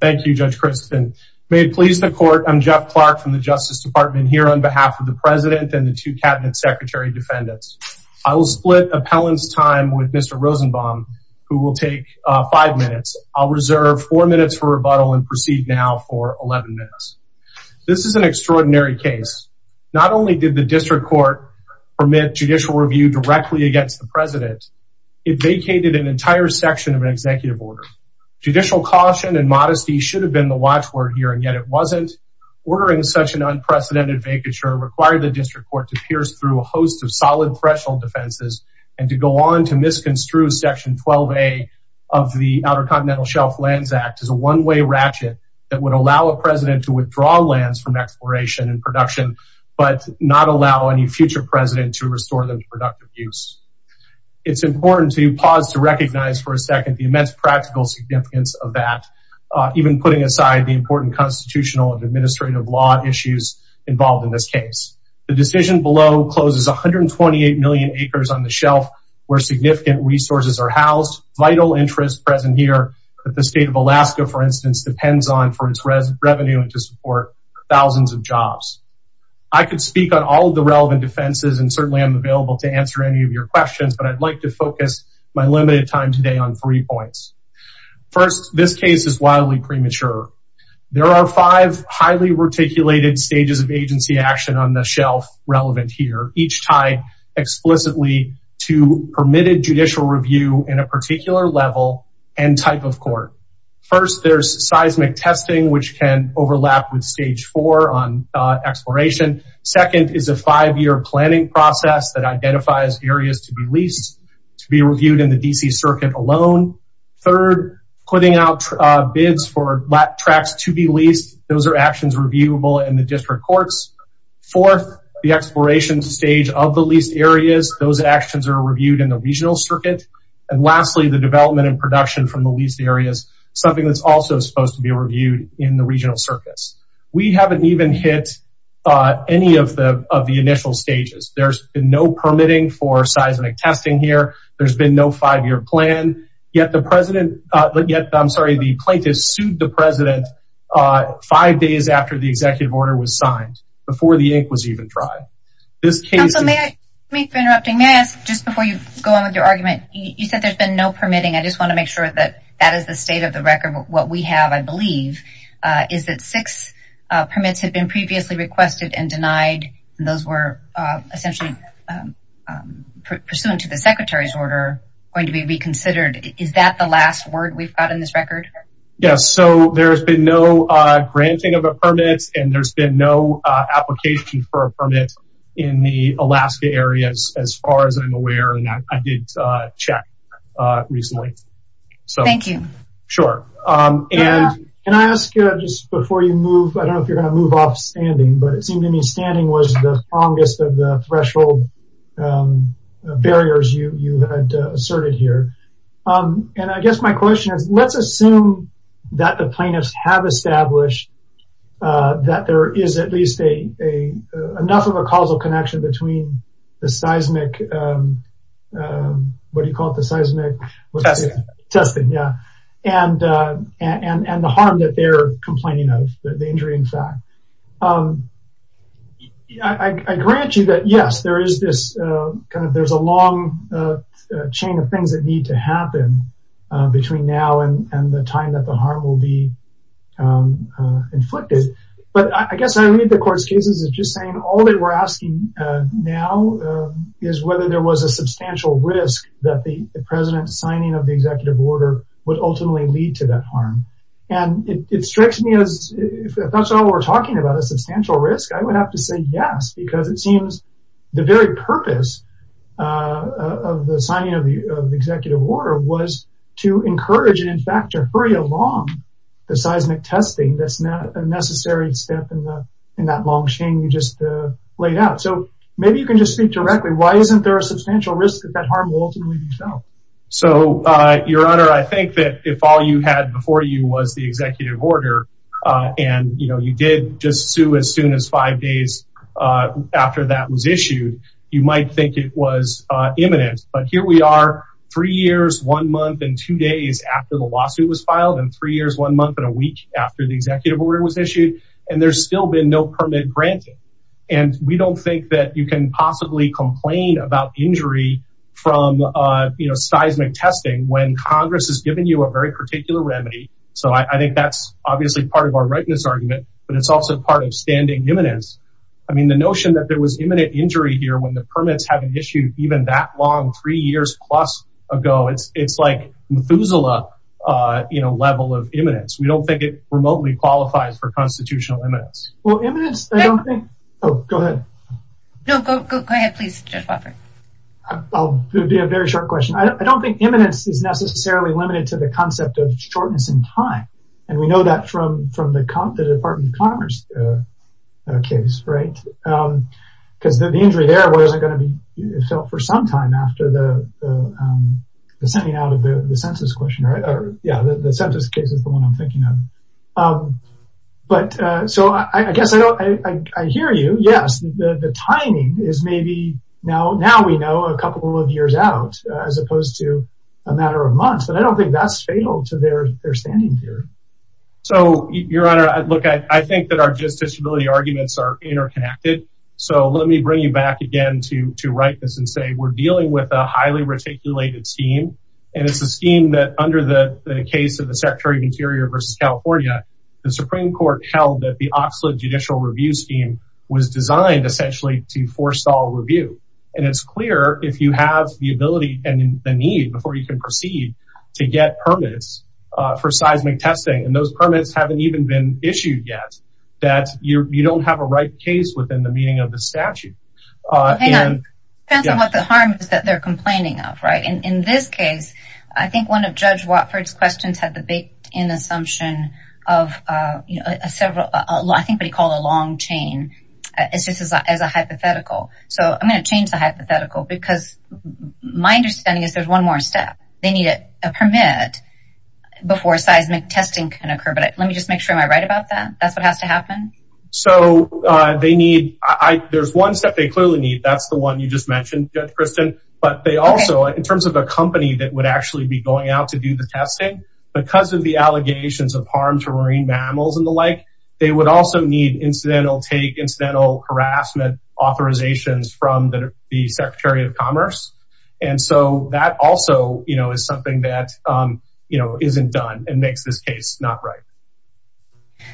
Thank you, Judge Christin. May it please the court, I'm Jeff Clark from the Justice Department here on behalf of the president and the two cabinet secretary defendants. I will split appellant's time with Mr. Rosenbaum, who will take five minutes. I'll reserve four minutes for rebuttal and proceed now for 11 minutes. This is an extraordinary case. Not only did the district court permit judicial review directly against the president, it vacated an entire section of an executive order. Judicial caution and modesty should have been the watchword here and yet it wasn't. Ordering such an unprecedented vacature required the district court to pierce through a host of solid threshold defenses and to go on to misconstrue section 12a of the Outer Continental Shelf Lands Act as a one-way ratchet that would allow a president to withdraw lands from exploration and production, but not allow any future president to restore them to the state of Alaska, for instance, depends on for its revenue and to support thousands of jobs. I could speak on all of the relevant defenses and certainly I'm available to answer any of three points. First, this case is wildly premature. There are five highly reticulated stages of agency action on the shelf relevant here, each tied explicitly to permitted judicial review in a particular level and type of court. First, there's seismic testing, which can overlap with stage four on exploration. Second is a five-year planning process that identifies areas to be leased to be reviewed in the D.C. circuit alone. Third, putting out bids for tracks to be leased, those are actions reviewable in the district courts. Fourth, the exploration stage of the leased areas, those actions are reviewed in the regional circuit. And lastly, the development and production from the leased areas, something that's also supposed to be reviewed in the regional circuits. We haven't even hit any of the initial stages. There's been no permitting for seismic testing here. There's been no five-year plan, yet the plaintiffs sued the president five days after the executive order was signed, before the ink was even dry. May I ask, just before you go on with your argument, you said there's been no permitting. I just want to make sure that that is the state of the record. What we have, I believe, is that six permits had been previously requested and denied, and those were essentially pursuant to the secretary's order going to be reconsidered. Is that the last word we've got in this record? Yes, so there's been no granting of a permit, and there's been no application for a permit in the Alaska area, as far as I'm aware, and I did check recently. Thank you. Sure, and can I ask, just before you move, I don't know if you're going to move off standing, but it seemed to me standing was the strongest of the threshold barriers you had asserted here, and I guess my question is, let's assume that the plaintiffs have established that there is at least enough of a causal connection between the seismic, what do you call it, the seismic? Testing. Testing, yeah, and the harm that they're complaining of, the injury, in fact. I agree with you that, yes, there is this, kind of, there's a long chain of things that need to happen between now and the time that the harm will be inflicted, but I guess I read the court's cases as just saying all they were asking now is whether there was a substantial risk that the president's signing of the executive order would ultimately lead to that harm, and it strikes me as, if that's all we're talking about, a substantial risk, I would have to say yes, because it seems the very purpose of the signing of the executive order was to encourage it, in fact, to hurry along the seismic testing that's not a necessary step in that long chain you just laid out, so maybe you can just speak directly, why isn't there a substantial risk that that harm will ultimately be felt? So, your honor, I think that if all you had before you was the executive order, and, you know, you did just sue as soon as five days after that was issued, you might think it was imminent, but here we are three years, one month, and two days after the lawsuit was filed, and three years, one month, and a week after the executive order was issued, and there's still been no permit granted, and we don't think that you can possibly complain about injury from, you know, seismic testing when Congress has given you a very particular remedy, so I think that's obviously part of our rightness argument, but it's also part of standing imminence, I mean, the notion that there was imminent injury here when the permits haven't issued even that long, three years plus ago, it's like Methuselah, you know, level of imminence, we don't think it is. I don't think imminence is necessarily limited to the concept of shortness in time, and we know that from the Department of Commerce case, right? Because the injury there wasn't going to be felt for some time after the sending out of the census question, right? Yeah, the census case is the one I'm thinking of, but so I guess I don't, I hear you, yes, the timing is maybe, now we know a couple of years out as opposed to a matter of months, but I don't think that's fatal to their standing here. So, your honor, look, I think that our justiciability arguments are interconnected, so let me bring you back again to rightness and say we're dealing with a highly reticulated scheme, and it's a scheme that under the case of the Secretary of Interior versus California, the Supreme Court held that the Oxlade judicial review scheme was designed essentially to forestall review, and it's clear if you have the ability and the need before you can proceed to get permits for seismic testing, and those permits haven't even been issued yet, that you don't have a right case within the meaning of the statute. Hang on, depends on what the harm is that they're complaining of, right? In this case, I think one of Judge Watford's questions had the baked in assumption of, you know, a several, I think what he called a long chain, it's just as a hypothetical, so I'm going to change the hypothetical, because my understanding is there's one more step. They need a permit before seismic testing can occur, but let me just make sure I'm right about that, that's what has to happen? So, they need, there's one step they clearly need, that's the one you just mentioned, Judge Kristen, but they also, in terms of a company that would actually be going out to do the testing, because of the allegations of harm to marine mammals and the like, they would also need incidental take, incidental harassment authorizations from the Secretary of Commerce, and so that also, you know, is something that, you know, isn't done and makes this case not right.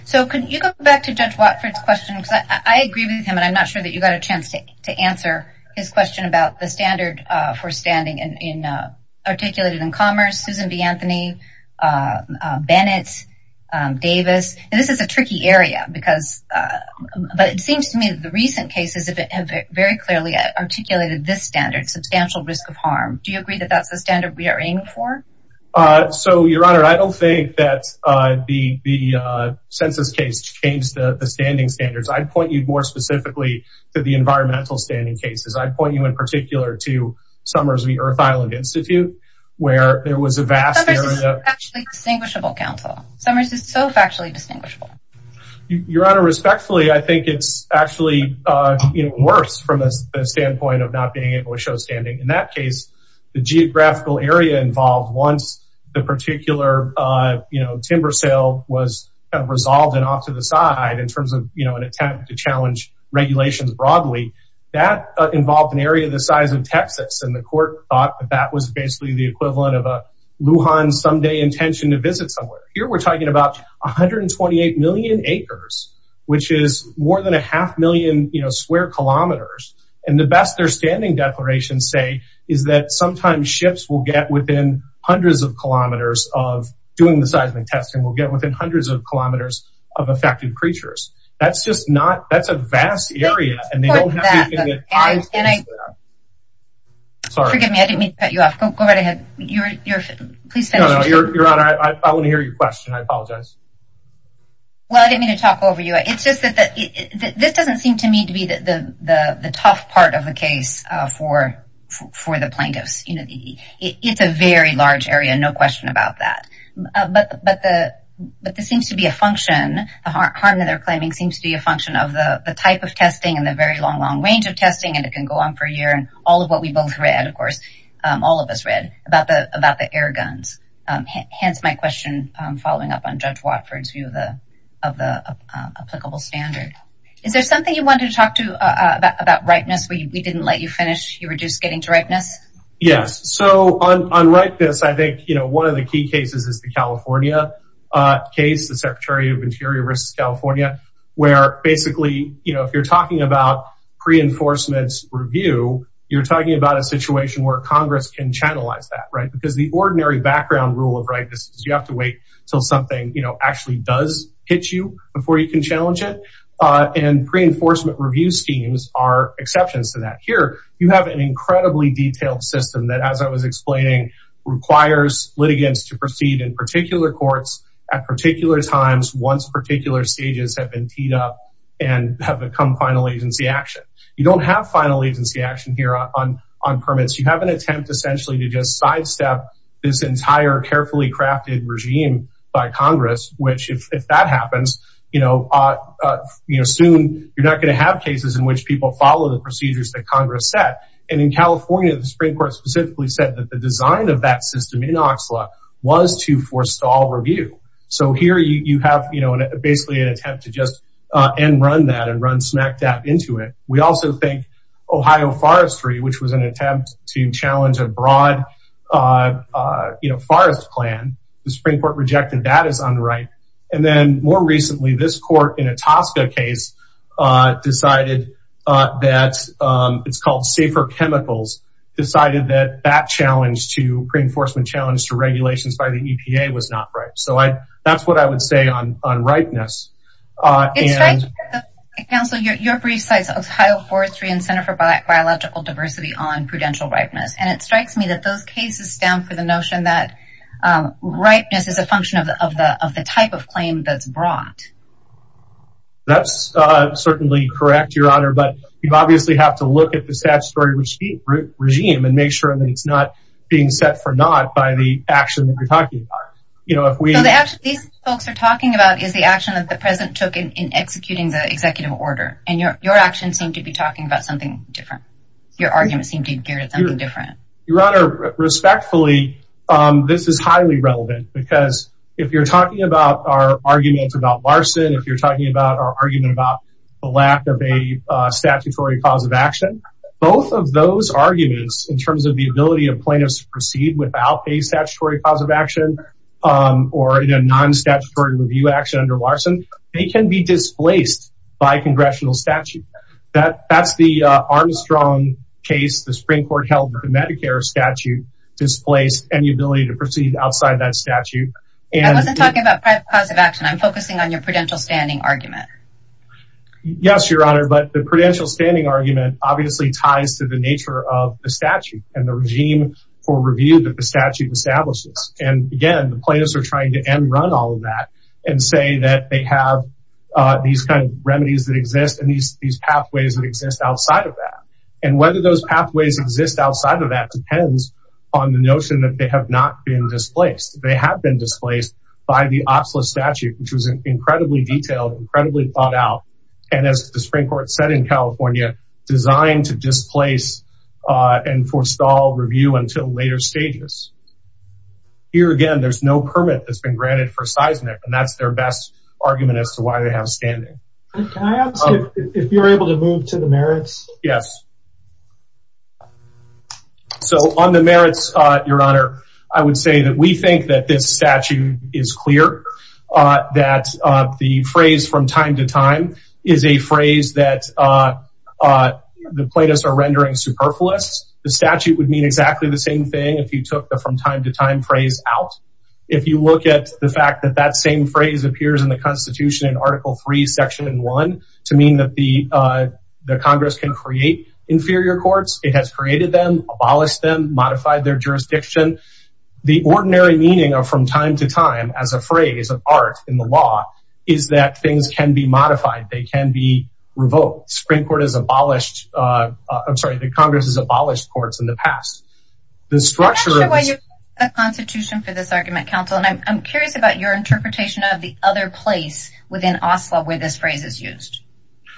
So, can you go back to Judge Watford's question, because I agree with him, and I'm not sure that you got a chance to answer his question about the standard for standing in, articulated in Commerce, Susan B. Anthony, Bennett, Davis, and this is a tricky area, because, but it seems to me that the recent cases have very clearly articulated this standard, substantial risk of harm. Do you agree that that's the standard we are aiming for? So, Your Honor, I don't think that the census case changed the standing standards. I'd point you more specifically to the environmental standing cases. I'd point you in particular to Summers v. Earth Island Institute, where there was a vast area... Summers is a factually distinguishable council. Summers is so factually distinguishable. Your Honor, respectfully, I think it's actually, you know, worse from the standpoint of not being able to show standing. In that case, the geographical area involved, once the particular, you know, timber sale was kind of resolved and off to the side in terms of, you know, an attempt to challenge regulations broadly, that involved an area the size of Texas, and the court thought that that was basically the equivalent of a Lujan someday intention to visit somewhere. Here we're talking about 128 million acres, which is more than a half million, you know, square kilometers, and the best their standing declarations say is that sometimes ships will get within hundreds of kilometers of doing the seismic testing will get within hundreds of kilometers of affected creatures. That's just not, that's a vast area, and they don't have... Forgive me, I didn't mean to cut you off. Go right ahead. I want to hear your question. I apologize. Well, I didn't mean to talk over you. It's just that this doesn't seem to me to be the for the plaintiffs. You know, it's a very large area, no question about that. But this seems to be a function, the harm that they're claiming seems to be a function of the type of testing and the very long, long range of testing, and it can go on for a year. And all of what we both read, of course, all of us read about the air guns. Hence my question, following up on Judge Watford's view of the applicable standard. Is there something you Yes. So unlike this, I think, you know, one of the key cases is the California case, the Secretary of Interior versus California, where basically, you know, if you're talking about pre-enforcement's review, you're talking about a situation where Congress can channelize that, right? Because the ordinary background rule of rightness is you have to wait until something, you know, actually does hit you before you can challenge it. And pre-enforcement review schemes are exceptions to that. Here, you have an incredibly detailed system that as I was explaining, requires litigants to proceed in particular courts at particular times, once particular stages have been teed up and have become final agency action. You don't have final agency action here on permits. You have an attempt essentially to just sidestep this entire carefully crafted regime by Congress, which if that happens, you know, you know, soon, you're not going to have cases in which people follow the procedures that Congress set. And in California, the Supreme Court specifically said that the design of that system in Oxlock was to forestall review. So here you have, you know, basically an attempt to just end run that and run smack dab into it. We also think Ohio forestry, which was an attempt to challenge a broad, you know, forest plan, the Supreme Court rejected that as unright. And then more recently, this court in a Tosca case, decided that it's called safer chemicals, decided that that challenge to pre-enforcement challenge to regulations by the EPA was not right. So I, that's what I would say on unrightness. It strikes me that those cases stand for the notion that rightness is a function of the, of the, of the type of claim that's brought. That's certainly correct, your honor, but you obviously have to look at the statutory regime and make sure that it's not being set for not by the action that we're talking about. You know, if we actually, these folks are talking about is the action that the president took in executing the executive order and your, your actions seem to be talking about something different. Your arguments seem to be geared at something different. Your honor, respectfully, this is highly relevant because if you're talking about our arguments about Larson, if you're talking about our argument about the lack of a statutory cause of action, both of those arguments in terms of the ability of plaintiffs to proceed without a statutory cause of action or in a non-statutory review action under Larson, they can be displaced by congressional statute. That that's the Armstrong case. The Supreme court held that the Medicare statute displaced any ability to proceed outside that statute. I wasn't talking about cause of action. I'm focusing on your prudential standing argument. Yes, your honor. But the prudential standing argument obviously ties to the nature of the statute and the regime for review that the statute establishes. And again, the plaintiffs are trying to end run all of that and say that they have these kinds of remedies that exist. And these, these pathways that exist outside of that and whether those pathways exist outside of that depends on the notion that they have not been displaced. They have been displaced by the OPSLA statute, which was incredibly detailed, incredibly thought out. And as the Supreme court said in California designed to displace and forestall review until later stages. Here again, there's no permit that's been granted for seismic and that's their best argument as to why they have standing. Can I ask if you're able to move to the merits? Yes. So on the merits, your honor, I would say that we think that this statute is clear that the phrase from time to time is a phrase that the plaintiffs are rendering superfluous. The statute would mean exactly the same thing. If you took the from time to time phrase out, if you look at the fact that that same phrase appears in the constitution in article three, section one, to mean that the, uh, the Congress can create inferior courts, it has created them, abolished them, modified their jurisdiction. The ordinary meaning of from time to time as a phrase of art in the law is that things can be modified. They can be revoked. Supreme court has abolished. Uh, I'm sorry. The Congress has abolished courts in the past. I'm not sure why you're using the constitution for this argument, counsel. And I'm curious about your interpretation of the other place within Oslo where this phrase is used.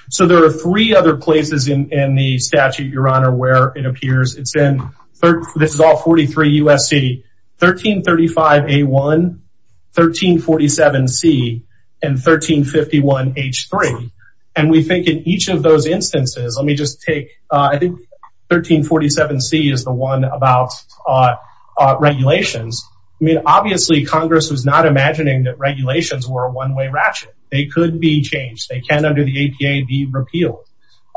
So there are three other places in the statute, your honor, where it appears. It's in, this is all 43 USC, 1335 A1, 1347 C, and 1351 H3. And we think in each of those instances, let me just take, uh, I think 1347 C is the one about, uh, uh, regulations. I mean, obviously Congress was not imagining that regulations were a one-way ratchet. They could be changed. They can under the APA be repealed.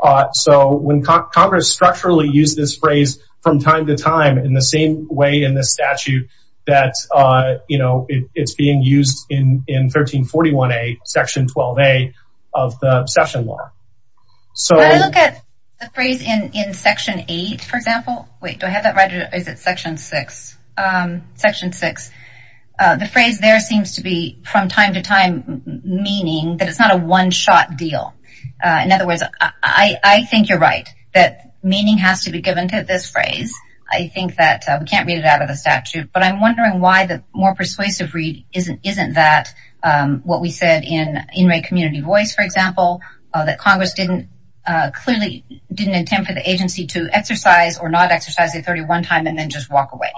Uh, so when Congress structurally use this phrase from time to time in the same way in the statute that, uh, you know, it's being used in, in 1341 A section 12 A of the session law. So when I look at the phrase in, in section eight, for example, wait, do I have that right? Is it section six? Um, section six, uh, the phrase there seems to be from time to time meaning that it's not a one shot deal. Uh, in other words, I, I think you're right that meaning has to be given to this phrase. I think that we can't read it out of the statute, but I'm wondering why the more persuasive read isn't, isn't that, um, what we said in, in Ray community voice, for example, that Congress didn't, uh, clearly didn't intend for the agency to exercise or not exercise the 31 time and then just walk away.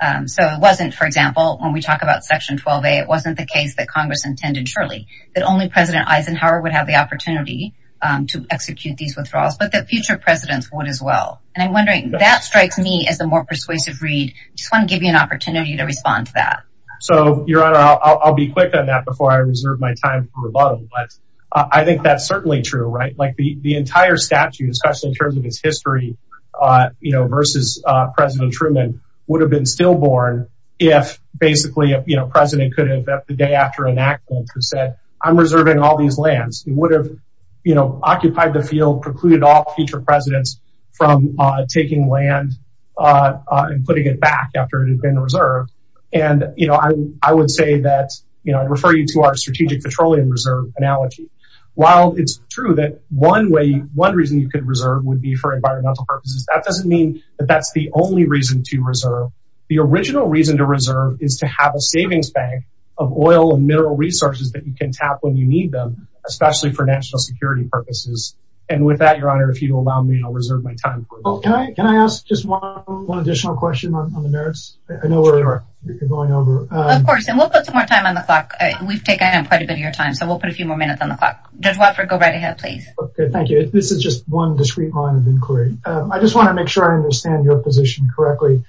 Um, so it wasn't, for example, when we talk about section 12 A, it wasn't the case that Congress intended, surely that only president Eisenhower would have the opportunity, um, to execute these withdrawals, but that future presidents would as well. And I'm wondering that strikes me as a more persuasive read. Just want to give you an opportunity to respond to that. So your honor, I'll, I'll be quick on that before I reserve my time for rebuttal, but I think that's certainly true, right? Like the, the entire statute, especially in terms of his history, uh, you know, versus, uh, president Truman would have been still born if basically, you know, president could have at the day after an accident who said, I'm reserving all these lands. He would have, you know, occupied the field, precluded all future presidents from, uh, taking land, uh, uh, and putting it back after it had been reserved. And, you know, I, I would say that, you know, I'd refer you to our strategic petroleum reserve analogy. While it's true that one way, one reason you could reserve would be for environmental purposes. That doesn't mean that that's the only reason to reserve. The original reason to reserve is to have a savings bank of oil and mineral resources that you can tap when you need them, especially for national security purposes. And with that, your honor, if you'll allow me, I'll reserve my time. Can I, can I ask just one additional question on the merits? I know where we are going over. Of course, and we'll put some more time on the clock. We've taken quite a bit of your time, so we'll put a few more minutes on the clock. Judge Watford, go right ahead, please. Okay, thank you. This is just one discreet line of inquiry. I just want to make sure I understand your position correctly.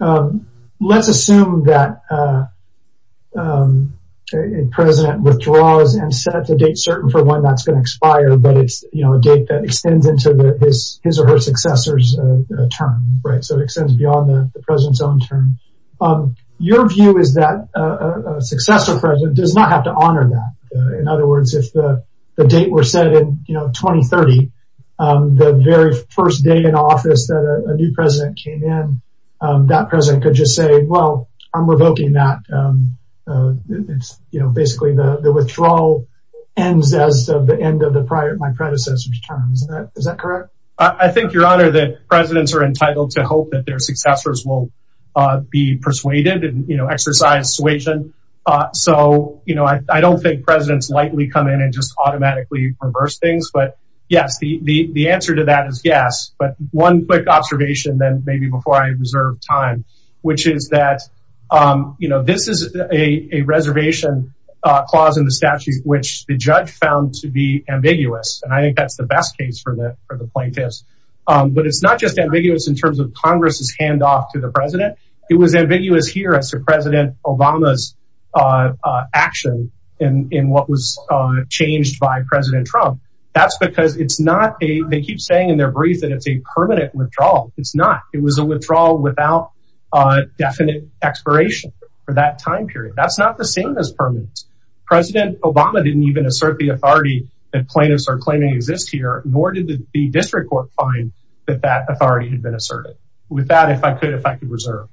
Um, let's assume that, uh, um, a president withdraws and sets a date certain for when that's going to expire, but it's, you know, a date that extends into his or her successor's, uh, term, right? So it extends beyond the president's own term. Um, your view is that a, a successor president does not have to honor that. In other words, if the, the date were set in, you know, 2030, um, the very first day in office that a new president came in, um, that president could just say, well, I'm revoking that. Um, uh, it's, you know, basically the, the withdrawal ends as of the end of the prior, my predecessor's term. Is that, is that correct? I think, your honor, that presidents are entitled to hope that their successors will, uh, be persuaded and, you know, exercise suasion. Uh, so, you know, I, I don't think presidents lightly come in and just automatically reverse things, but yes, the, the, the answer to that is yes. But one quick observation then maybe before I reserve time, which is that, um, you know, this is a, a reservation, uh, clause in the statute, which the judge found to be ambiguous. And I think that's the best case for the, for the plaintiffs. Um, but it's not just ambiguous in terms of Congress's handoff to the president. It was ambiguous here as to president Obama's, uh, uh, action in, in what was, uh, changed by president Trump. That's because it's not a, they keep saying in their brief that it's a permanent withdrawal. It's not, it was a withdrawal without a definite expiration for that time period. That's not the same as permanent. President Obama didn't even assert the authority that plaintiffs are claiming exists here, nor did the district court find that that authority had been asserted. With that, if I could, if I could reserve.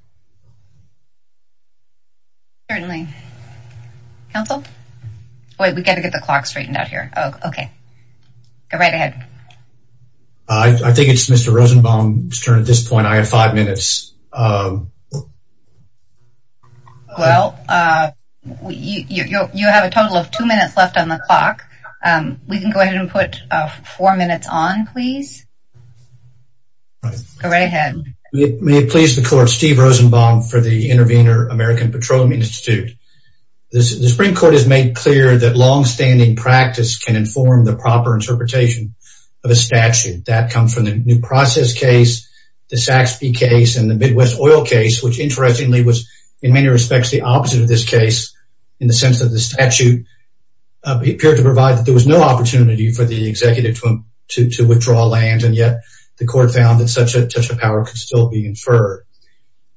Certainly. Counsel? Wait, we got to get the clock straightened out here. Oh, okay. Go right ahead. I think it's Mr. Rosenbaum's turn at this point. I have five minutes. Well, uh, you, you, you have a total of two minutes left on the clock. Um, we can go ahead and put, uh, four minutes on please. Go right ahead. May it please the court, Steve Rosenbaum for the Intervenor American Petroleum Institute. This, the Supreme Court has made clear that longstanding practice can inform the proper interpretation of a statute that comes from the new process case, the Saxby case, and the Midwest oil case, which interestingly was in many respects, the opposite of this case in the sense of the opportunity for the executive to withdraw land. And yet the court found that such a power could still be inferred.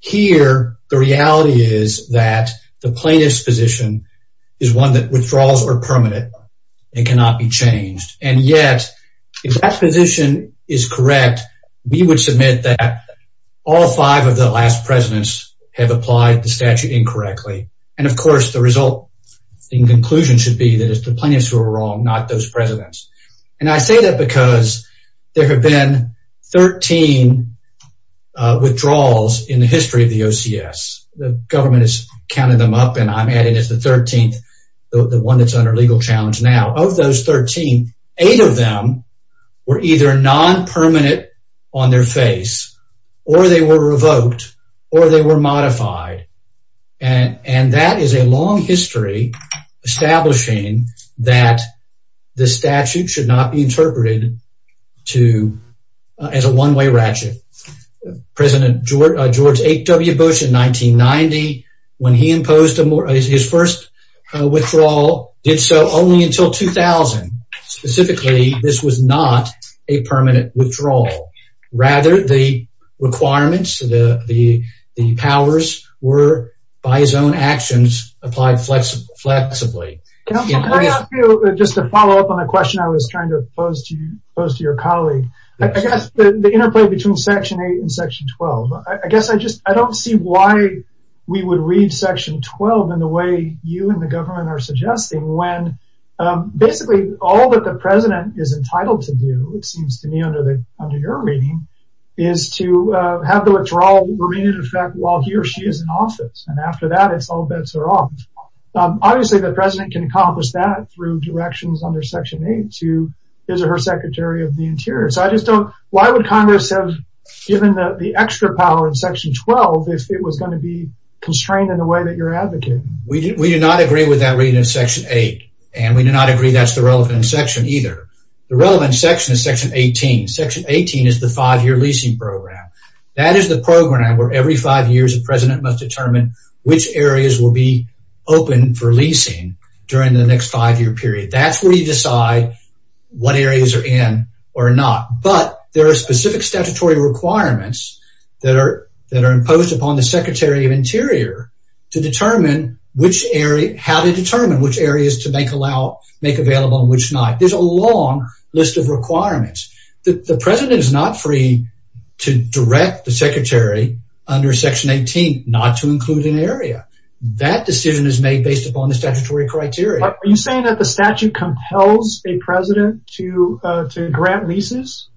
Here, the reality is that the plaintiff's position is one that withdrawals are permanent and cannot be changed. And yet, if that position is correct, we would submit that all five of the last presidents have applied the statute incorrectly. And of course, the result in conclusion should be that it's the plaintiffs who are wrong, not those presidents. And I say that because there have been 13 withdrawals in the history of the OCS. The government has counted them up, and I'm added as the 13th, the one that's under legal challenge now. Of those 13, eight of them were either non-permanent on their face, or they were revoked, or they were modified. And that is a long history establishing that the statute should not be interpreted as a one-way ratchet. President George H. W. Bush in 1990, when he imposed his first withdrawal, did so only until 2000. Specifically, this was not a permanent withdrawal. Rather, the requirements, the powers were, by his own actions, applied flexibly. Just to follow up on a question I was trying to pose to your colleague, I guess the interplay between Section 8 and Section 12, I guess I just, I don't see why we would read Section 12 in the way you and the government are suggesting when basically all that the president is entitled to it seems to me under your reading, is to have the withdrawal remain in effect while he or she is in office. And after that, it's all bets are off. Obviously, the president can accomplish that through directions under Section 8 to his or her Secretary of the Interior. So I just don't, why would Congress have given the extra power in Section 12 if it was going to be constrained in the way that you're advocating? We do not agree with that reading in Section 8. And we do not agree that's the relevant section either. The relevant section is Section 18. Section 18 is the five-year leasing program. That is the program where every five years a president must determine which areas will be open for leasing during the next five-year period. That's where you decide what areas are in or not. But there are specific statutory requirements that are imposed upon the There's a long list of requirements. The president is not free to direct the secretary under Section 18 not to include an area. That decision is made based upon the statutory criteria. Are you saying that the statute compels a president to grant leases?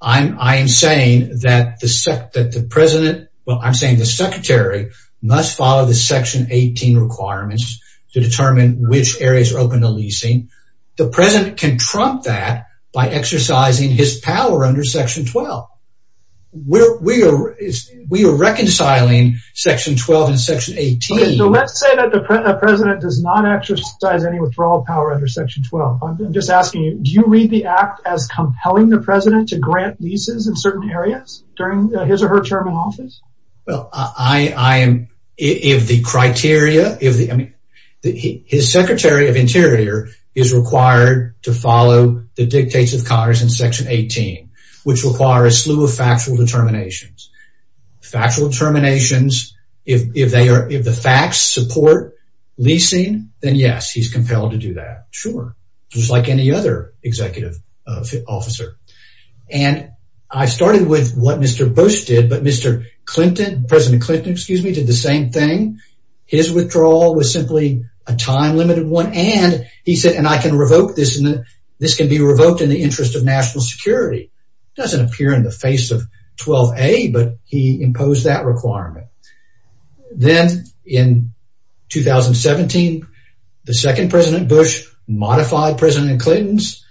I'm saying that the president, well, I'm saying the secretary must follow the Section 18 requirements to determine which areas are open to leasing. The president can trump that by exercising his power under Section 12. We are reconciling Section 12 and Section 18. So let's say that the president does not exercise any withdrawal power under Section 12. I'm just asking you, do you read the act as compelling the president to grant leases in certain areas during his or her term in office? Well, I am, if the criteria, if the, I mean, his secretary of interior is required to follow the dictates of Congress in Section 18, which require a slew of factual determinations. Factual determinations, if they are, if the facts support leasing, then yes, he's compelled to do that. Sure. Just like any other executive officer. And I started with what Mr. Bush did, but Mr. Clinton, President Clinton, excuse me, did the same thing. His withdrawal was simply a time limited one. And he said, and I can revoke this and this can be revoked in the interest of national security. It doesn't appear in the face of 12A, but he imposed that requirement. Then in 2017, the second President Bush modified President Clinton's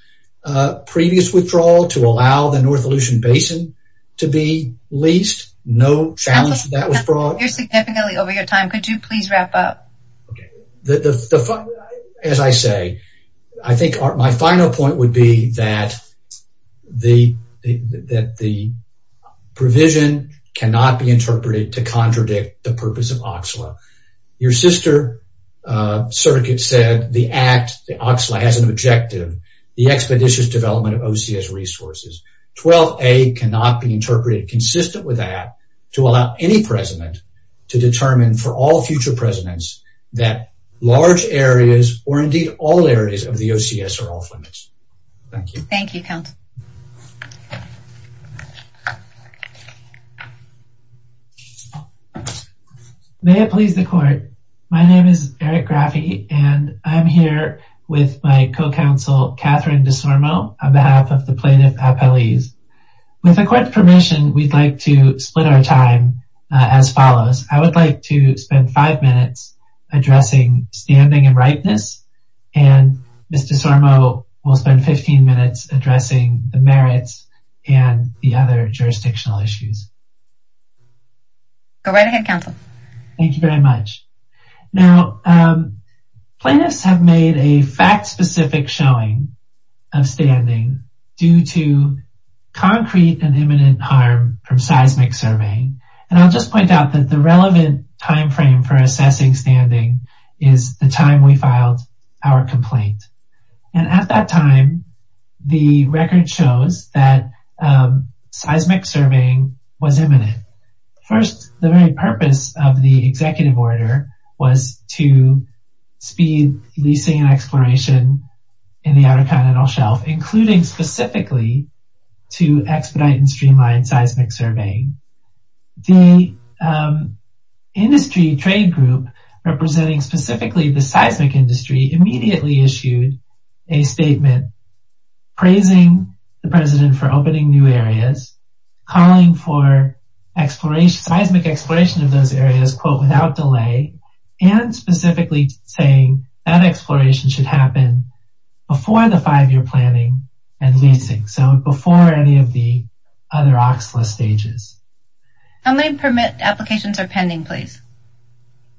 previous withdrawal to allow the North Aleutian Basin to be leased. No challenge that was brought. You're significantly over your time. Could you please wrap up? Okay. As I say, I think my final point would be that the provision cannot be interpreted to contradict the purpose of OCSLA. Your sister circuit said the act, the OCSLA has an objective, the expeditious development of OCS resources. 12A cannot be interpreted consistent with that to allow any president to determine for all future presidents that large areas or indeed all areas of the OCS are off limits. Thank you. Thank you. May it please the court. My name is Eric Grafee and I'm here with my co-counsel Catherine DeSormo on behalf of the plaintiff appellees. With the court's permission, we'd like to split our time as follows. I would like to spend five minutes addressing standing and ripeness and Mr. DeSormo will spend 15 minutes addressing the merits and the other jurisdictional issues. Go right ahead counsel. Thank you very much. Now plaintiffs have made a fact specific showing of standing due to concrete and imminent harm from seismic surveying. And I'll just point out that the relevant timeframe for assessing standing is the time we filed our complaint. And at that time, the record shows that seismic surveying was imminent. First, the very purpose of the executive order was to speed leasing and exploration in the Outer Continental Shelf, including specifically to expedite and streamline seismic surveying. The industry trade group representing specifically the seismic industry immediately issued a statement praising the areas without delay and specifically saying that exploration should happen before the five-year planning and leasing. So before any of the other OCSLA stages. How many permit applications are pending please?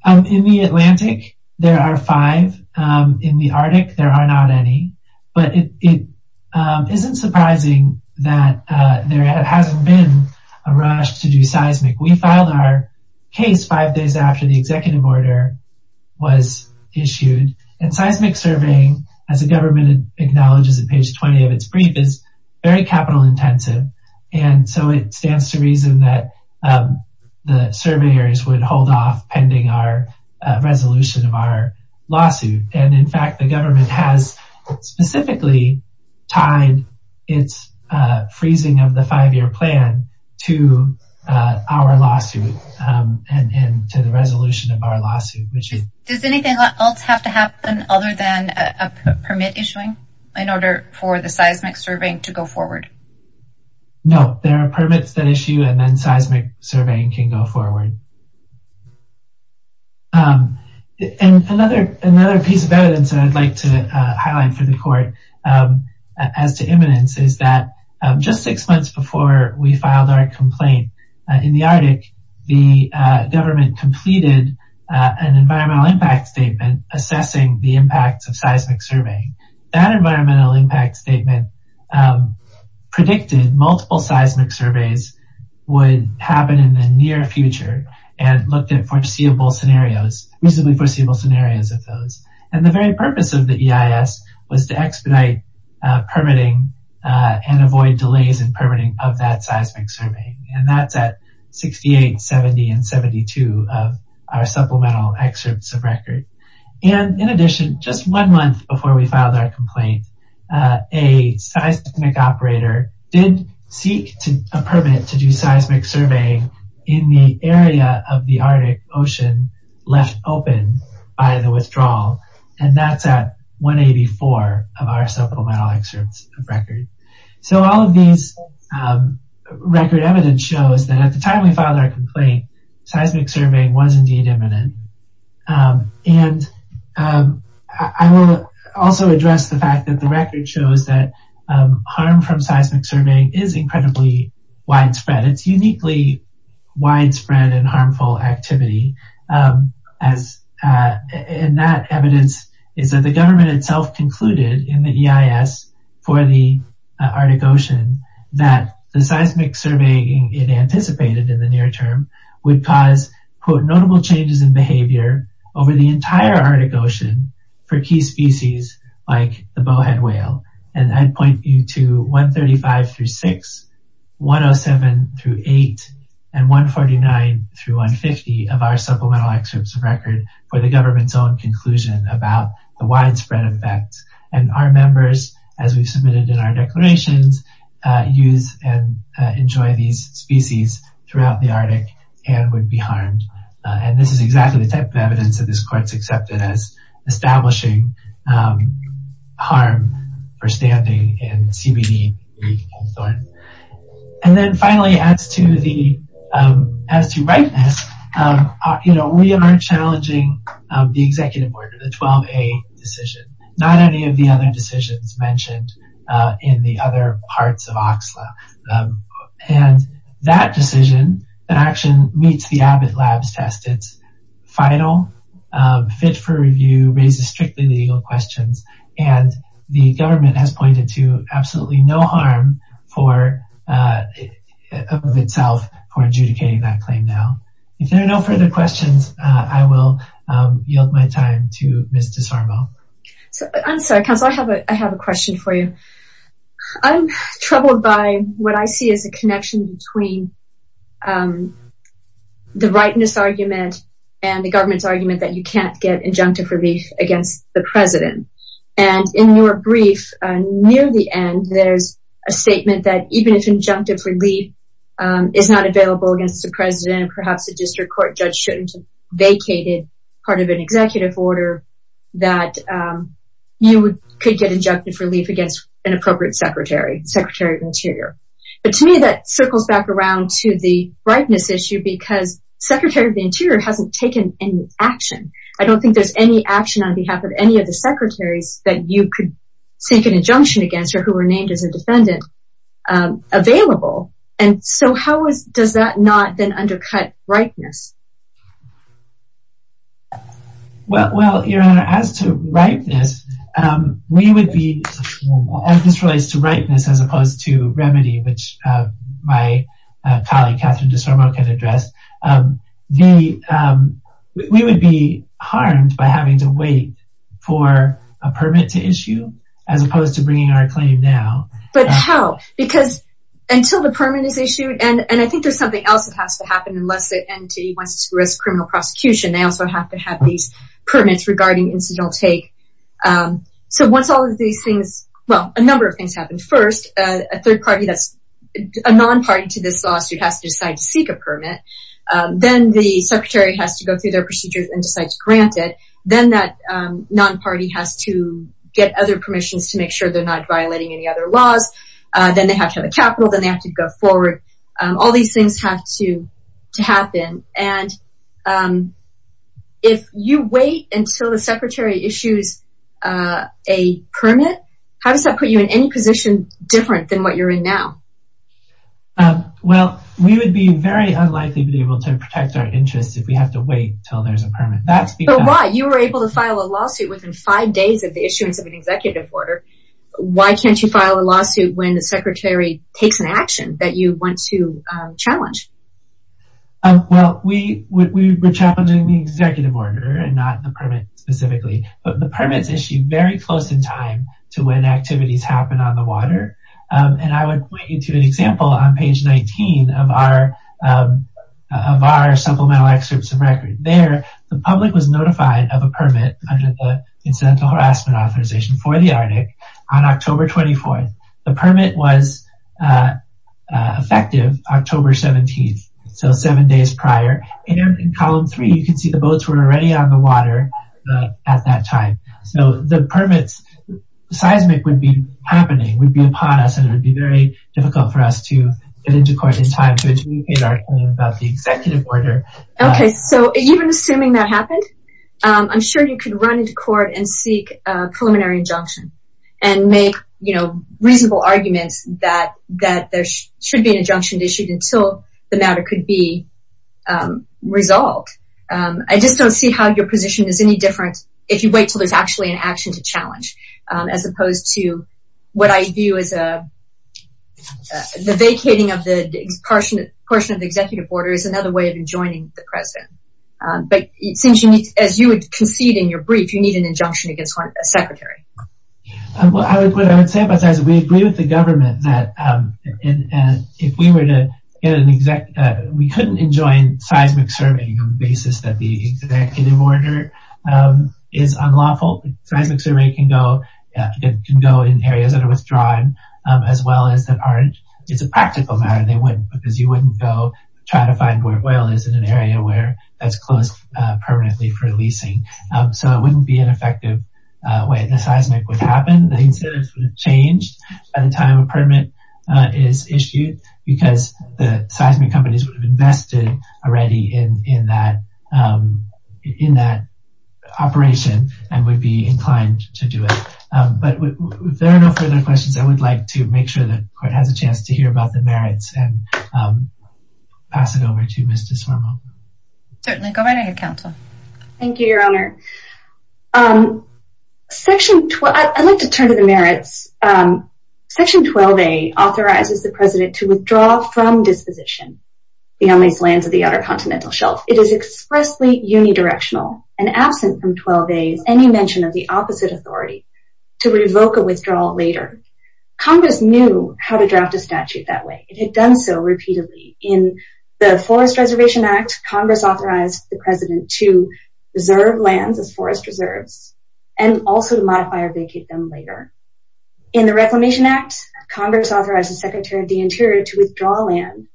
In the Atlantic, there are five. In the Arctic, there are not any. But it isn't surprising that there hasn't been a rush to do seismic. We filed our case five days after the executive order was issued. And seismic surveying, as the government acknowledges at page 20 of its brief, is very capital intensive. And so it stands to reason that the survey areas would hold off pending our resolution of our lawsuit. And in fact, the government has specifically tied its freezing of the five-year plan to our lawsuit and to the resolution of our lawsuit. Does anything else have to happen other than a permit issuing in order for the seismic surveying to go forward? No, there are permits that issue and then seismic surveying can go forward. And another piece of evidence that I'd like to highlight for the court as to imminence is that just six months before we filed our complaint in the Arctic, the government completed an environmental impact statement assessing the impacts of seismic surveying. That environmental impact statement predicted multiple seismic surveys would happen in the near future and looked at foreseeable scenarios, reasonably foreseeable scenarios of those. And the very purpose of the EIS was to expedite permitting and avoid delays in permitting of that seismic surveying. And that's at 68, 70, and 72 of our supplemental excerpts of record. And in addition, just one month before we filed our complaint, a seismic operator did and that's at 184 of our supplemental excerpts of record. So all of these record evidence shows that at the time we filed our complaint, seismic surveying was indeed imminent. And I will also address the fact that the record shows that harm from seismic surveying is incredibly widespread. It's uniquely widespread and harmful activity. And that evidence is that the government itself concluded in the EIS for the Arctic Ocean that the seismic surveying it anticipated in the near term would cause quote notable changes in behavior over the entire Arctic Ocean for key species like the bowhead whale. And I'd point you to 135 through 6, 107 through 8, and 149 through 150 of our supplemental excerpts of record for the government's own conclusion about the widespread effects. And our members, as we've submitted in our declarations, use and enjoy these species throughout the Arctic and would be harmed. And this is exactly the type of evidence that this harm for standing in CBD. And then finally, as to the, as to rightness, you know, we are challenging the executive order, the 12A decision, not any of the other decisions mentioned in the other parts of OXLA. And that decision, that action meets the Abbott labs test, final, fit for review, raises strictly legal questions. And the government has pointed to absolutely no harm for, of itself for adjudicating that claim. Now, if there are no further questions, I will yield my time to Ms. DeSarbo. I'm sorry, counsel, I have a, I have a question for you. I'm troubled by what I see as a connection between the rightness argument and the government's argument that you can't get injunctive relief against the president. And in your brief, near the end, there's a statement that even if injunctive relief is not available against the president, perhaps the district court judge shouldn't vacated part of an executive order that you could get injunctive relief against an circles back around to the rightness issue, because secretary of the interior hasn't taken any action. I don't think there's any action on behalf of any of the secretaries that you could take an injunction against or who were named as a defendant available. And so how is, does that not then undercut rightness? Well, your honor, as to rightness, we would be, as this relates to rightness, as opposed to remedy, which my colleague Catherine DeSarbo can address, we would be harmed by having to wait for a permit to issue as opposed to bringing our claim now. But how? Because until the permit is issued, and I think there's something else that has to happen unless the entity wants to risk criminal prosecution, they also have to have these well, a number of things happened first, a third party, that's a non party to this lawsuit has to decide to seek a permit, then the secretary has to go through their procedures and decides granted, then that non party has to get other permissions to make sure they're not violating any other laws, then they have to have a capital, then they have to go forward, all these things have to happen. And if you wait until the secretary issues a permit, how does that put you in any position different than what you're in now? Well, we would be very unlikely to be able to protect our interests if we have to wait till there's a permit. But why? You were able to file a lawsuit within five days of the issuance of an executive order. Why can't you file a lawsuit when the we were challenging the executive order and not the permit specifically, but the permits issued very close in time to when activities happen on the water. And I would point you to an example on page 19 of our supplemental excerpts of record there, the public was notified of a permit under the Incidental Harassment Authorization for the Arctic on October 24. The permit was effective October 17. So seven days prior, and in column three, you can see the boats were already on the water at that time. So the permits seismic would be happening would be upon us and it would be very difficult for us to get into court in time to adjudicate our claim about the executive order. Okay, so even assuming that happened, I'm sure you could run into court and seek a preliminary injunction and make, you know, reasonable arguments that there should be an injunction issued until the matter could be resolved. I just don't see how your position is any different if you wait till there's actually an action to challenge, as opposed to what I view as a the vacating of the portion of the executive order is another way of enjoining the president. But it seems as you would concede in your brief, you need an injunction against a secretary. Well, I would say about seismic, we agree with the government that if we were to get an exec, we couldn't enjoin seismic surveying on the basis that the executive order is unlawful. Seismic survey can go in areas that are withdrawn, as well as that aren't, it's a practical matter, they wouldn't because you wouldn't go try to find where oil is in an area where that's closed permanently for leasing. So it wouldn't be an effective way, the seismic would happen, the incentives would have changed by the time a permit is issued, because the seismic companies would have invested already in that operation, and would be inclined to do it. But if there are no further questions, I would like to make sure that court has a chance to hear about the merits and pass it over to Mr. Swarmo. Certainly, go right ahead, counsel. Thank you, Your Honor. I'd like to turn to the merits. Section 12A authorizes the president to withdraw from disposition beyond these lands of the outer continental shelf. It is expressly unidirectional and absent from 12A is any mention of the opposite authority to revoke a withdrawal later. Congress knew how to draft a statute that way. It had done so repeatedly. In the Forest Reservation Act, Congress authorized the president to reserve lands as forest reserves, and also to modify or vacate them later. In the Reclamation Act, Congress authorized the Secretary of the Interior to withdraw land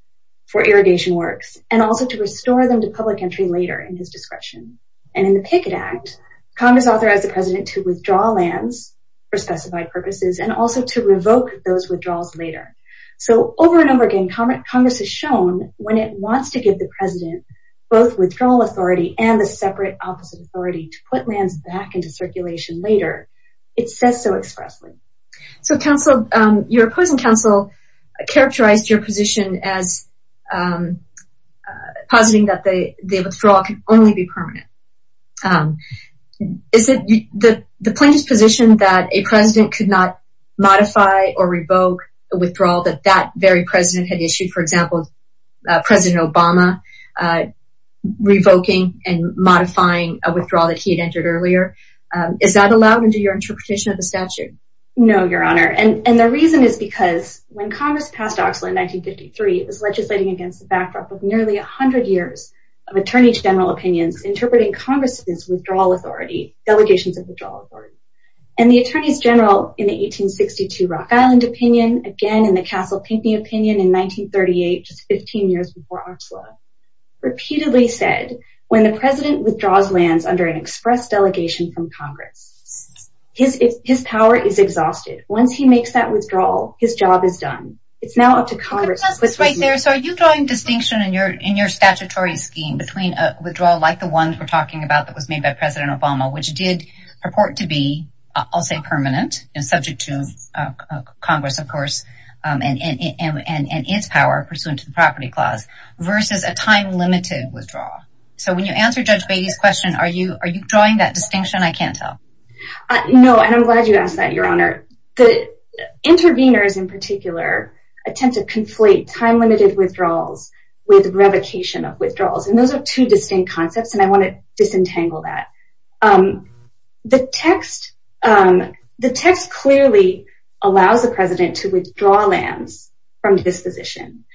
for irrigation works, and also to restore them to public entry later in his discretion. And in the Pickett Act, Congress authorized the president to withdraw lands for specified purposes and also to revoke those withdrawals later. So over and over again, Congress has shown when it wants to give the president both withdrawal authority and the separate opposite authority to put lands back into circulation later, it says so expressly. So, counsel, your opposing counsel characterized your position as positing that the withdrawal can only be permanent. Is it the plaintiff's position that a president could not modify or revoke a withdrawal that that very president had issued, for example, President Obama revoking and modifying a withdrawal that he had entered earlier? Is that allowed under your interpretation of the statute? No, Your Honor. And the reason is because when Congress passed Oxley in 1953, it was legislating against the backdrop of nearly 100 years of attorney general opinions interpreting Congress's withdrawal authority, delegations of withdrawal authority. And the attorneys general in the 1862 Rock Island opinion, again in the Castle Pinckney opinion in 1938, just 15 years before Oxley, repeatedly said, when the president withdraws lands under an express delegation from Congress, his power is exhausted. Once he makes that withdrawal, his job is done. It's now up to you. So are you drawing distinction in your statutory scheme between a withdrawal like the one we're talking about that was made by President Obama, which did purport to be, I'll say, permanent and subject to Congress, of course, and its power pursuant to the property clause, versus a time limited withdrawal? So when you answer Judge Beatty's question, are you drawing that distinction? I can't tell. No, and I'm glad you asked that, Your Honor. The interveners in particular tend to conflate time limited withdrawals with revocation of withdrawals. And those are two distinct concepts, and I want to disentangle that. The text clearly allows the president to withdraw lands from disposition.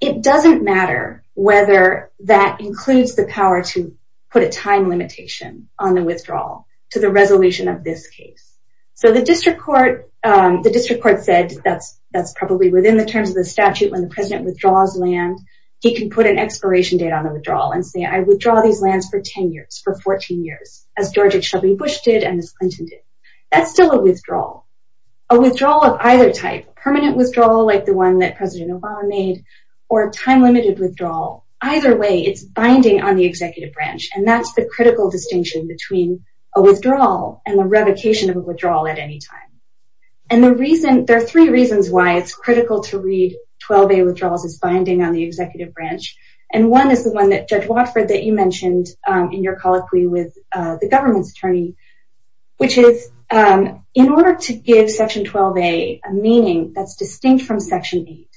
It doesn't matter whether that includes the power to put a time limitation on the withdrawal to the resolution of this case. So the district court said that's probably within the terms of the statute when the president withdraws land, he can put an expiration date on the withdrawal and say, I withdraw these lands for 10 years, for 14 years, as George H. W. Bush did and as Clinton did. That's still a withdrawal. A withdrawal of either type, a permanent withdrawal like the one that President Obama made, or a time limited withdrawal, either way, it's binding on the executive branch. And that's the critical distinction between a withdrawal and the revocation of a withdrawal at any time. And there are three reasons why it's critical to read 12A withdrawals as binding on the executive branch. And one is the one that Judge Watford, that you mentioned in your colloquy with the government's attorney, which is in order to give Section 12A a meaning that's distinct from Section 8,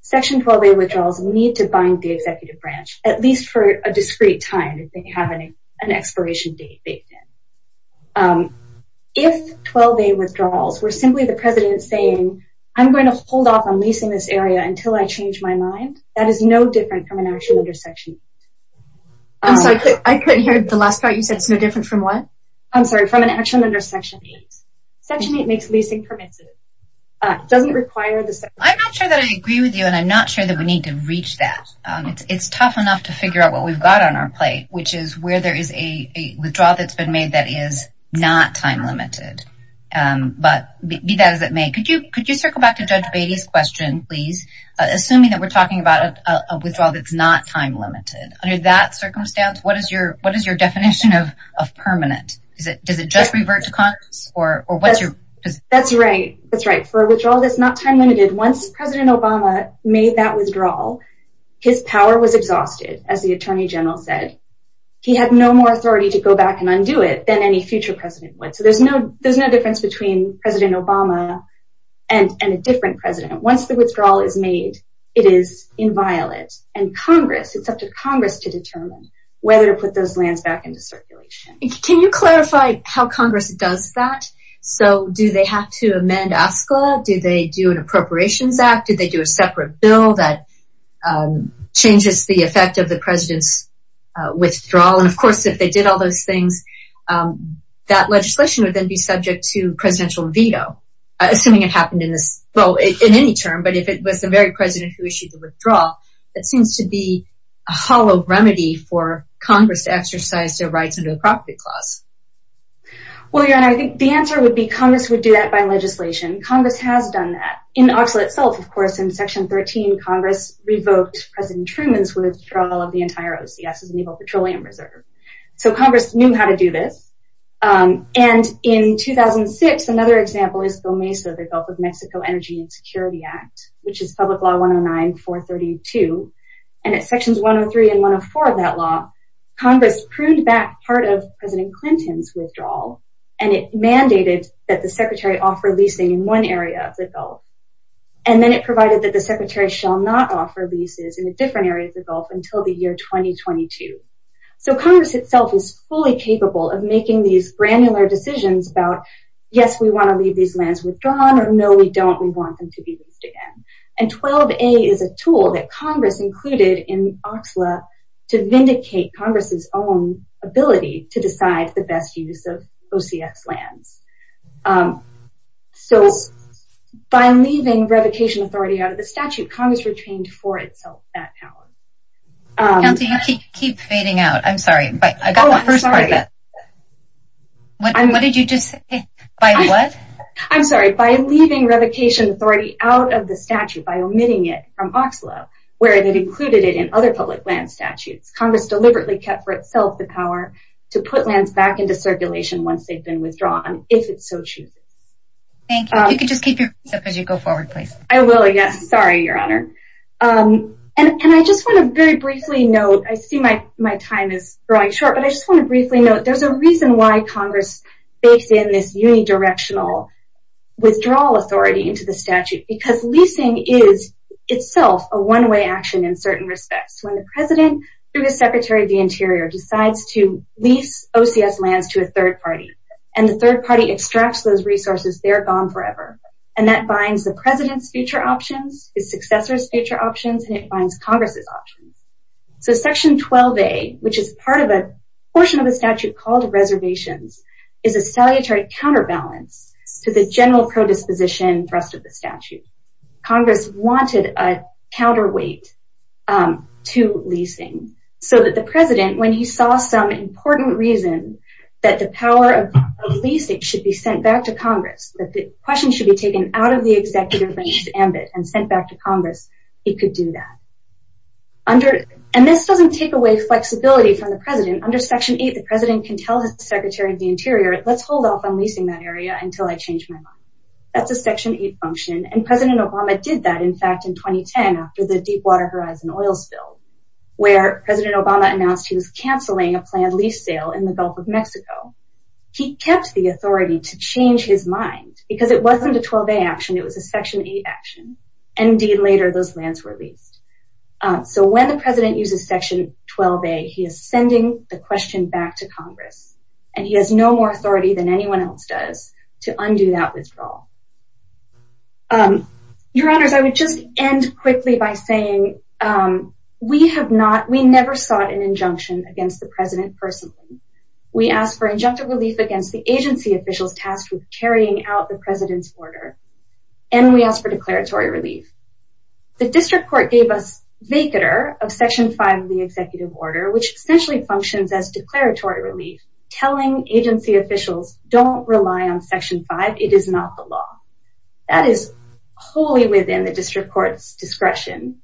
Section 12A withdrawals need to bind the executive branch, at least for a discrete time if they have an expiration date. If 12A withdrawals were simply the president saying, I'm going to hold off on leasing this area until I change my mind, that is no different from an action under Section 8. I'm sorry, I couldn't hear the last part. You said it's no different from what? I'm sorry, from an action under Section 8. Section 8 makes leasing permissive. It doesn't require the... I'm not sure that I agree with you, and I'm not sure that we need to reach that. It's tough enough to figure out what we've got on our plate, which is where there is a withdrawal that's been made that is not time-limited. But be that as it may, could you circle back to Judge Beatty's question, please? Assuming that we're talking about a withdrawal that's not time-limited, under that circumstance, what is your definition of permanent? Does it just revert to Congress? That's right, that's right. For a withdrawal that's not time-limited, once President Obama made that withdrawal, his power was exhausted, as the he had no more authority to go back and undo it than any future president would. So there's no difference between President Obama and a different president. Once the withdrawal is made, it is inviolate. And Congress, it's up to Congress to determine whether to put those lands back into circulation. Can you clarify how Congress does that? So do they have to amend ASCA? Do they do an Appropriations Act? Do they do a separate bill that changes the effect of the president's withdrawal? And of course, if they did all those things, that legislation would then be subject to presidential veto, assuming it happened in this, well, in any term. But if it was the very president who issued the withdrawal, that seems to be a hollow remedy for Congress to exercise their rights under the Property Clause. Well, your Honor, I think the answer would be Congress would do that by legislation. Congress has done that. In OCSLA itself, of course, in Section 13, Congress revoked President Truman's withdrawal of the entire OCS, the Naval Petroleum Reserve. So Congress knew how to do this. And in 2006, another example is GOMESA, the Gulf of Mexico Energy and Security Act, which is Public Law 109-432. And at Sections 103 and 104 of that law, Congress pruned back part of President Clinton's withdrawal, and it mandated that the Secretary offer leasing in one area of the Gulf. And then it provided that the Secretary shall not offer leases in a different area of the Gulf until the year 2022. So Congress itself is fully capable of making these granular decisions about, yes, we want to leave these lands withdrawn, or no, we don't, we want them to be leased again. And 12a is a tool that Congress included in OCSLA to vindicate Congress's own ability to decide the best use of OCS lands. So by leaving revocation authority out of the statute, Congress retained for itself that power. County, you keep fading out. I'm sorry, but I got the first part of it. What did you just say? By what? I'm sorry, by leaving revocation authority out of the statute, by omitting it from OCSLA, where it included it in other public land statutes. Congress deliberately kept for itself the power to put lands back into circulation once they've been withdrawn, if it so chooses. Thank you. You can just keep your voice up as you go forward, please. I will, yes. Sorry, Your Honor. And I just want to very briefly note, I see my time is growing short, but I just want to briefly note there's a reason why Congress bakes in this action in certain respects. When the President, through his Secretary of the Interior, decides to lease OCS lands to a third party, and the third party extracts those resources, they're gone forever. And that binds the President's future options, his successor's future options, and it binds Congress's options. So section 12a, which is part of a portion of the statute called reservations, is a salutary counterbalance to the general pro-disposition thrust of the statute. Congress wanted a counterweight to leasing, so that the President, when he saw some important reason that the power of leasing should be sent back to Congress, that the question should be taken out of the Executive Branch's ambit and sent back to Congress, he could do that. And this doesn't take away flexibility from the President. Under section 8, the President can tell his Secretary of the Interior, let's hold off on leasing that area until I change my mind. That's a section 8 function, and President Obama did that, in fact, in 2010 after the Deepwater Horizon oil spill, where President Obama announced he was canceling a planned lease sale in the Gulf of Mexico. He kept the authority to change his mind, because it wasn't a 12a action, it was a section 8 action, and indeed later those lands were leased. So when the President uses section 12a, he is sending the question back to Congress, and he has no more authority than anyone else does to undo that withdrawal. Your Honors, I would just end quickly by saying, we have not, we never sought an injunction against the President personally. We asked for injunctive relief against the agency officials tasked with carrying out the President's order, and we asked for declaratory relief. The District Court gave us vacatur of section 5 of the Executive Order, which essentially functions as declaratory relief, telling agency officials, don't rely on section 5, it is not the law. That is wholly within the District Court's discretion,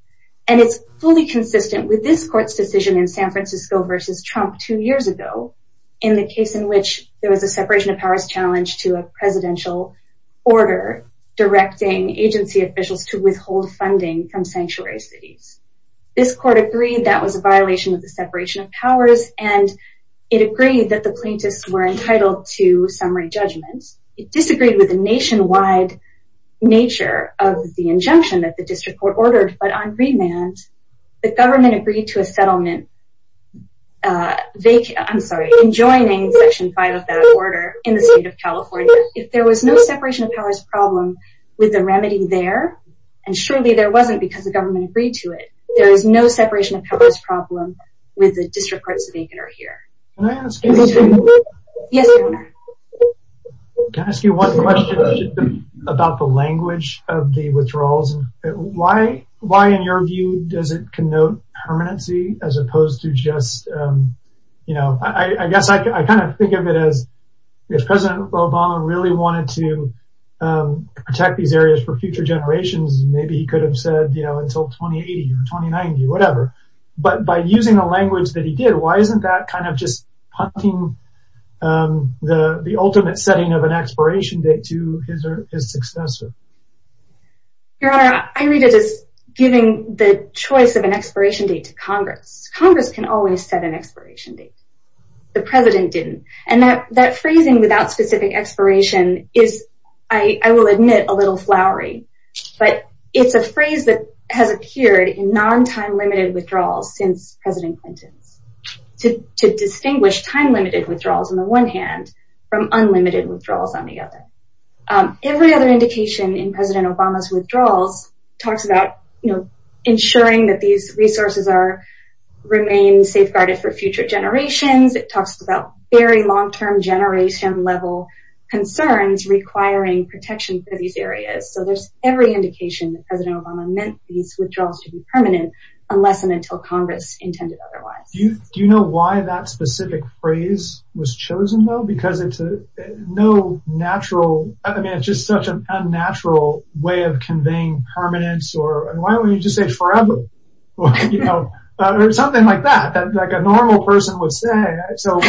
and it's fully consistent with this Court's decision in San Francisco versus Trump two years ago, in the case in which there was a separation of powers challenge to a presidential order directing agency officials to withhold funding from sanctuary cities. This Court agreed that was a violation of the separation of powers, and it agreed that the plaintiffs were summary judgments. It disagreed with the nationwide nature of the injunction that the District Court ordered, but on remand, the government agreed to a settlement, vacatur, I'm sorry, enjoining section 5 of that order in the state of California. If there was no separation of powers problem with the remedy there, and surely there wasn't because the government agreed to it, there is no separation of powers problem with the District Court's vacatur here. Can I ask you one question about the language of the withdrawals? Why, in your view, does it connote permanency as opposed to just, you know, I guess I kind of think of it as, if President Obama really wanted to protect these areas for future generations, maybe he could have said, you know, until 2080 or 2090, whatever, but by using the language that he did, why isn't that kind of just punting the ultimate setting of an expiration date to his successor? Your Honor, I read it as giving the choice of an expiration date to Congress. Congress can always set an expiration date. The President didn't, and that phrasing, without specific expiration, is, I will admit, a little flowery, but it's a phrase that has appeared in non-time limited withdrawals since President Clinton's, to distinguish time limited withdrawals on the one hand from unlimited withdrawals on the other. Every other indication in President Obama's withdrawals talks about, you know, ensuring that these resources are, remain safeguarded for future generations, it talks about very long-term generation level concerns requiring protection for these areas, so there's every indication that President Obama meant these withdrawals to be until Congress intended otherwise. Do you know why that specific phrase was chosen, though? Because it's no natural, I mean, it's just such an unnatural way of conveying permanence, or why wouldn't you just say forever, you know, or something like that, that like a normal person would say, so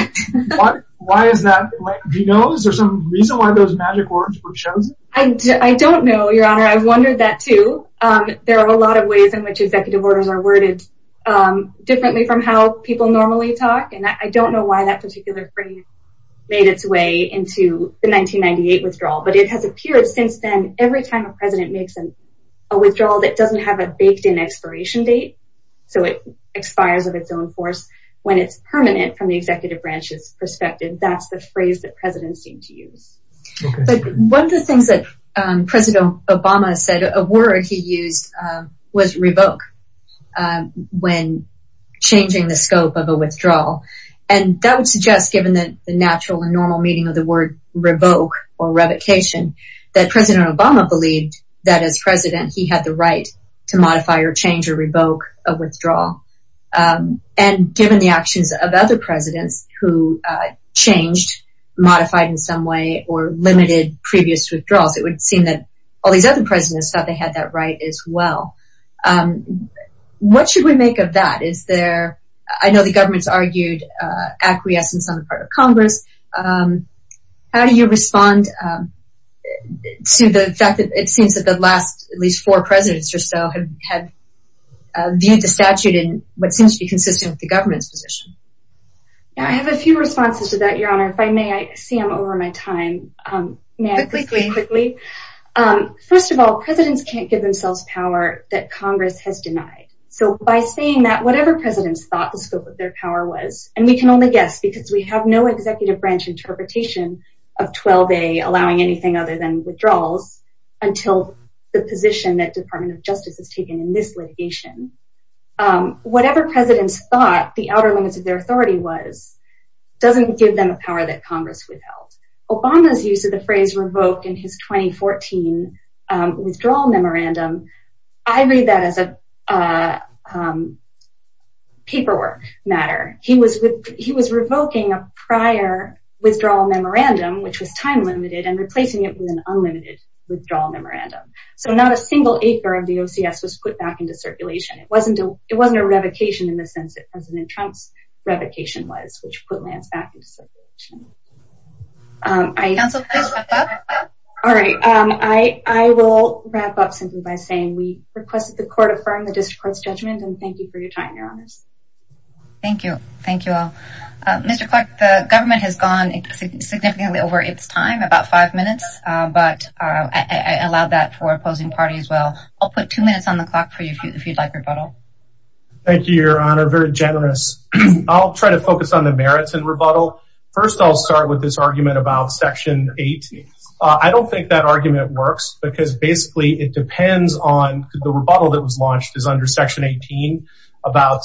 why is that? Do you know, is there some reason why those magic words were chosen? I don't know, Your Honor, I've wondered that too. There are a lot of ways in which executive orders are worded differently from how people normally talk, and I don't know why that particular phrase made its way into the 1998 withdrawal, but it has appeared since then. Every time a president makes a withdrawal that doesn't have a baked-in expiration date, so it expires of its own force when it's permanent from the executive branch's perspective, that's the phrase that presidents seem to use. But one of the things that President Obama said, a word he used was revoke. When changing the scope of a withdrawal, and that would suggest, given the natural and normal meaning of the word revoke or revocation, that President Obama believed that as president, he had the right to modify or change or revoke a withdrawal. And given the actions of other presidents who changed, modified in some way, or limited previous withdrawals, it would seem that all these other presidents thought they had that right as well. What should we make of that? I know the government's argued acquiescence on the part of Congress. How do you respond to the fact that it seems that the last at least four presidents or so have viewed the statute in what seems to be consistent with the government's position? I have a few responses to that, Your Honor. If I may, I see I'm over my time. May I quickly? First of all, presidents can't give themselves power that Congress has denied. So by saying that, whatever presidents thought the scope of their power was, and we can only guess because we have no executive branch interpretation of 12A allowing anything other than withdrawals until the position that Department of Justice has taken in this litigation. Whatever presidents thought the outer limits of their authority was doesn't give them a power that Congress has denied. Obama's use of the phrase revoke in his 2014 withdrawal memorandum, I read that as a paperwork matter. He was revoking a prior withdrawal memorandum, which was time-limited, and replacing it with an unlimited withdrawal memorandum. So not a single acre of the OCS was put back into circulation. It wasn't a revocation in the sense that President Trump's revocation was, which put lands back into circulation. All right, I will wrap up simply by saying we requested the court affirm the district court's judgment and thank you for your time, Your Honors. Thank you. Thank you all. Mr. Clark, the government has gone significantly over its time, about five minutes, but I allowed that for opposing parties as well. I'll put two minutes on the clock for you if you'd like rebuttal. Thank you, Your Honor. Very generous. I'll try focus on the merits and rebuttal. First, I'll start with this argument about Section 18. I don't think that argument works because basically, it depends on the rebuttal that was launched is under Section 18 about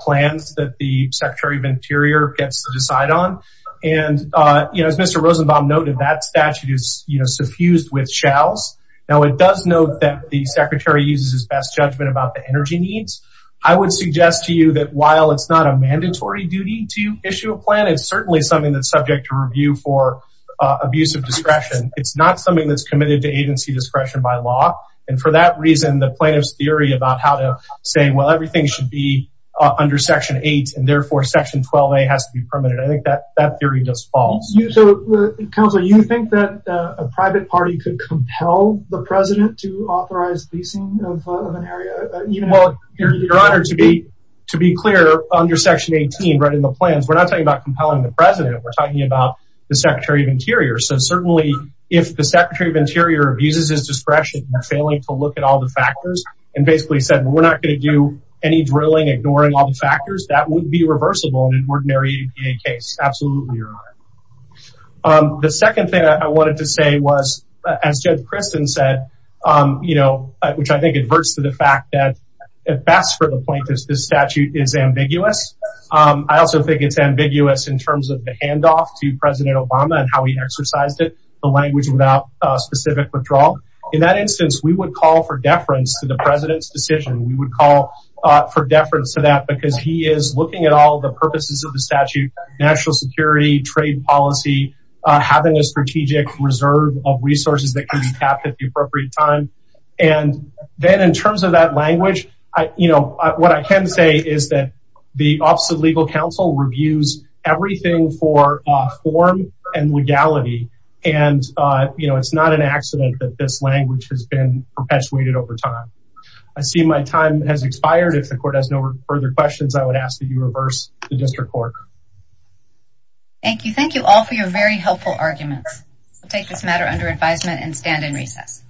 plans that the Secretary of Interior gets to decide on. And as Mr. Rosenbaum noted, that statute is suffused with shalls. Now, it does note that the Secretary uses his best judgment about the energy needs. I would suggest to you that while it's not a mandatory duty to issue a plan, it's certainly something that's subject to review for abuse of discretion. It's not something that's committed to agency discretion by law. And for that reason, the plaintiff's theory about how to say, well, everything should be under Section 8, and therefore, Section 12a has to be permitted. I think that that theory does fall. Counselor, you think that a private party could compel the president to authorize leasing of an area? Well, Your Honor, to be clear, under Section 18, right in the plans, we're not talking about compelling the president. We're talking about the Secretary of Interior. So certainly, if the Secretary of Interior abuses his discretion in failing to look at all the factors and basically said, we're not going to do any drilling, ignoring all the factors, that would be reversible in an ordinary EPA case. Absolutely, Your Honor. The second thing I wanted to say was, as Judge Kristen said, which I think adverts to the fact that at best for the plaintiffs, this statute is ambiguous. I also think it's ambiguous in terms of the handoff to President Obama and how he exercised it, the language without specific withdrawal. In that instance, we would call for deference to the president's decision. We would call for deference to that because he is looking at all the purposes of the statute, national security, trade policy, having a strategic reserve of resources that can be tapped at the appropriate time. And then in terms of that language, what I can say is that the Office of Legal Counsel reviews everything for form and legality. And it's not an accident that this language has been perpetuated over time. I see my time has expired. If the court has no further questions, I would ask that you reverse the district court. Thank you. Thank you all for your very helpful arguments. We'll take this matter under advisement and stand in recess.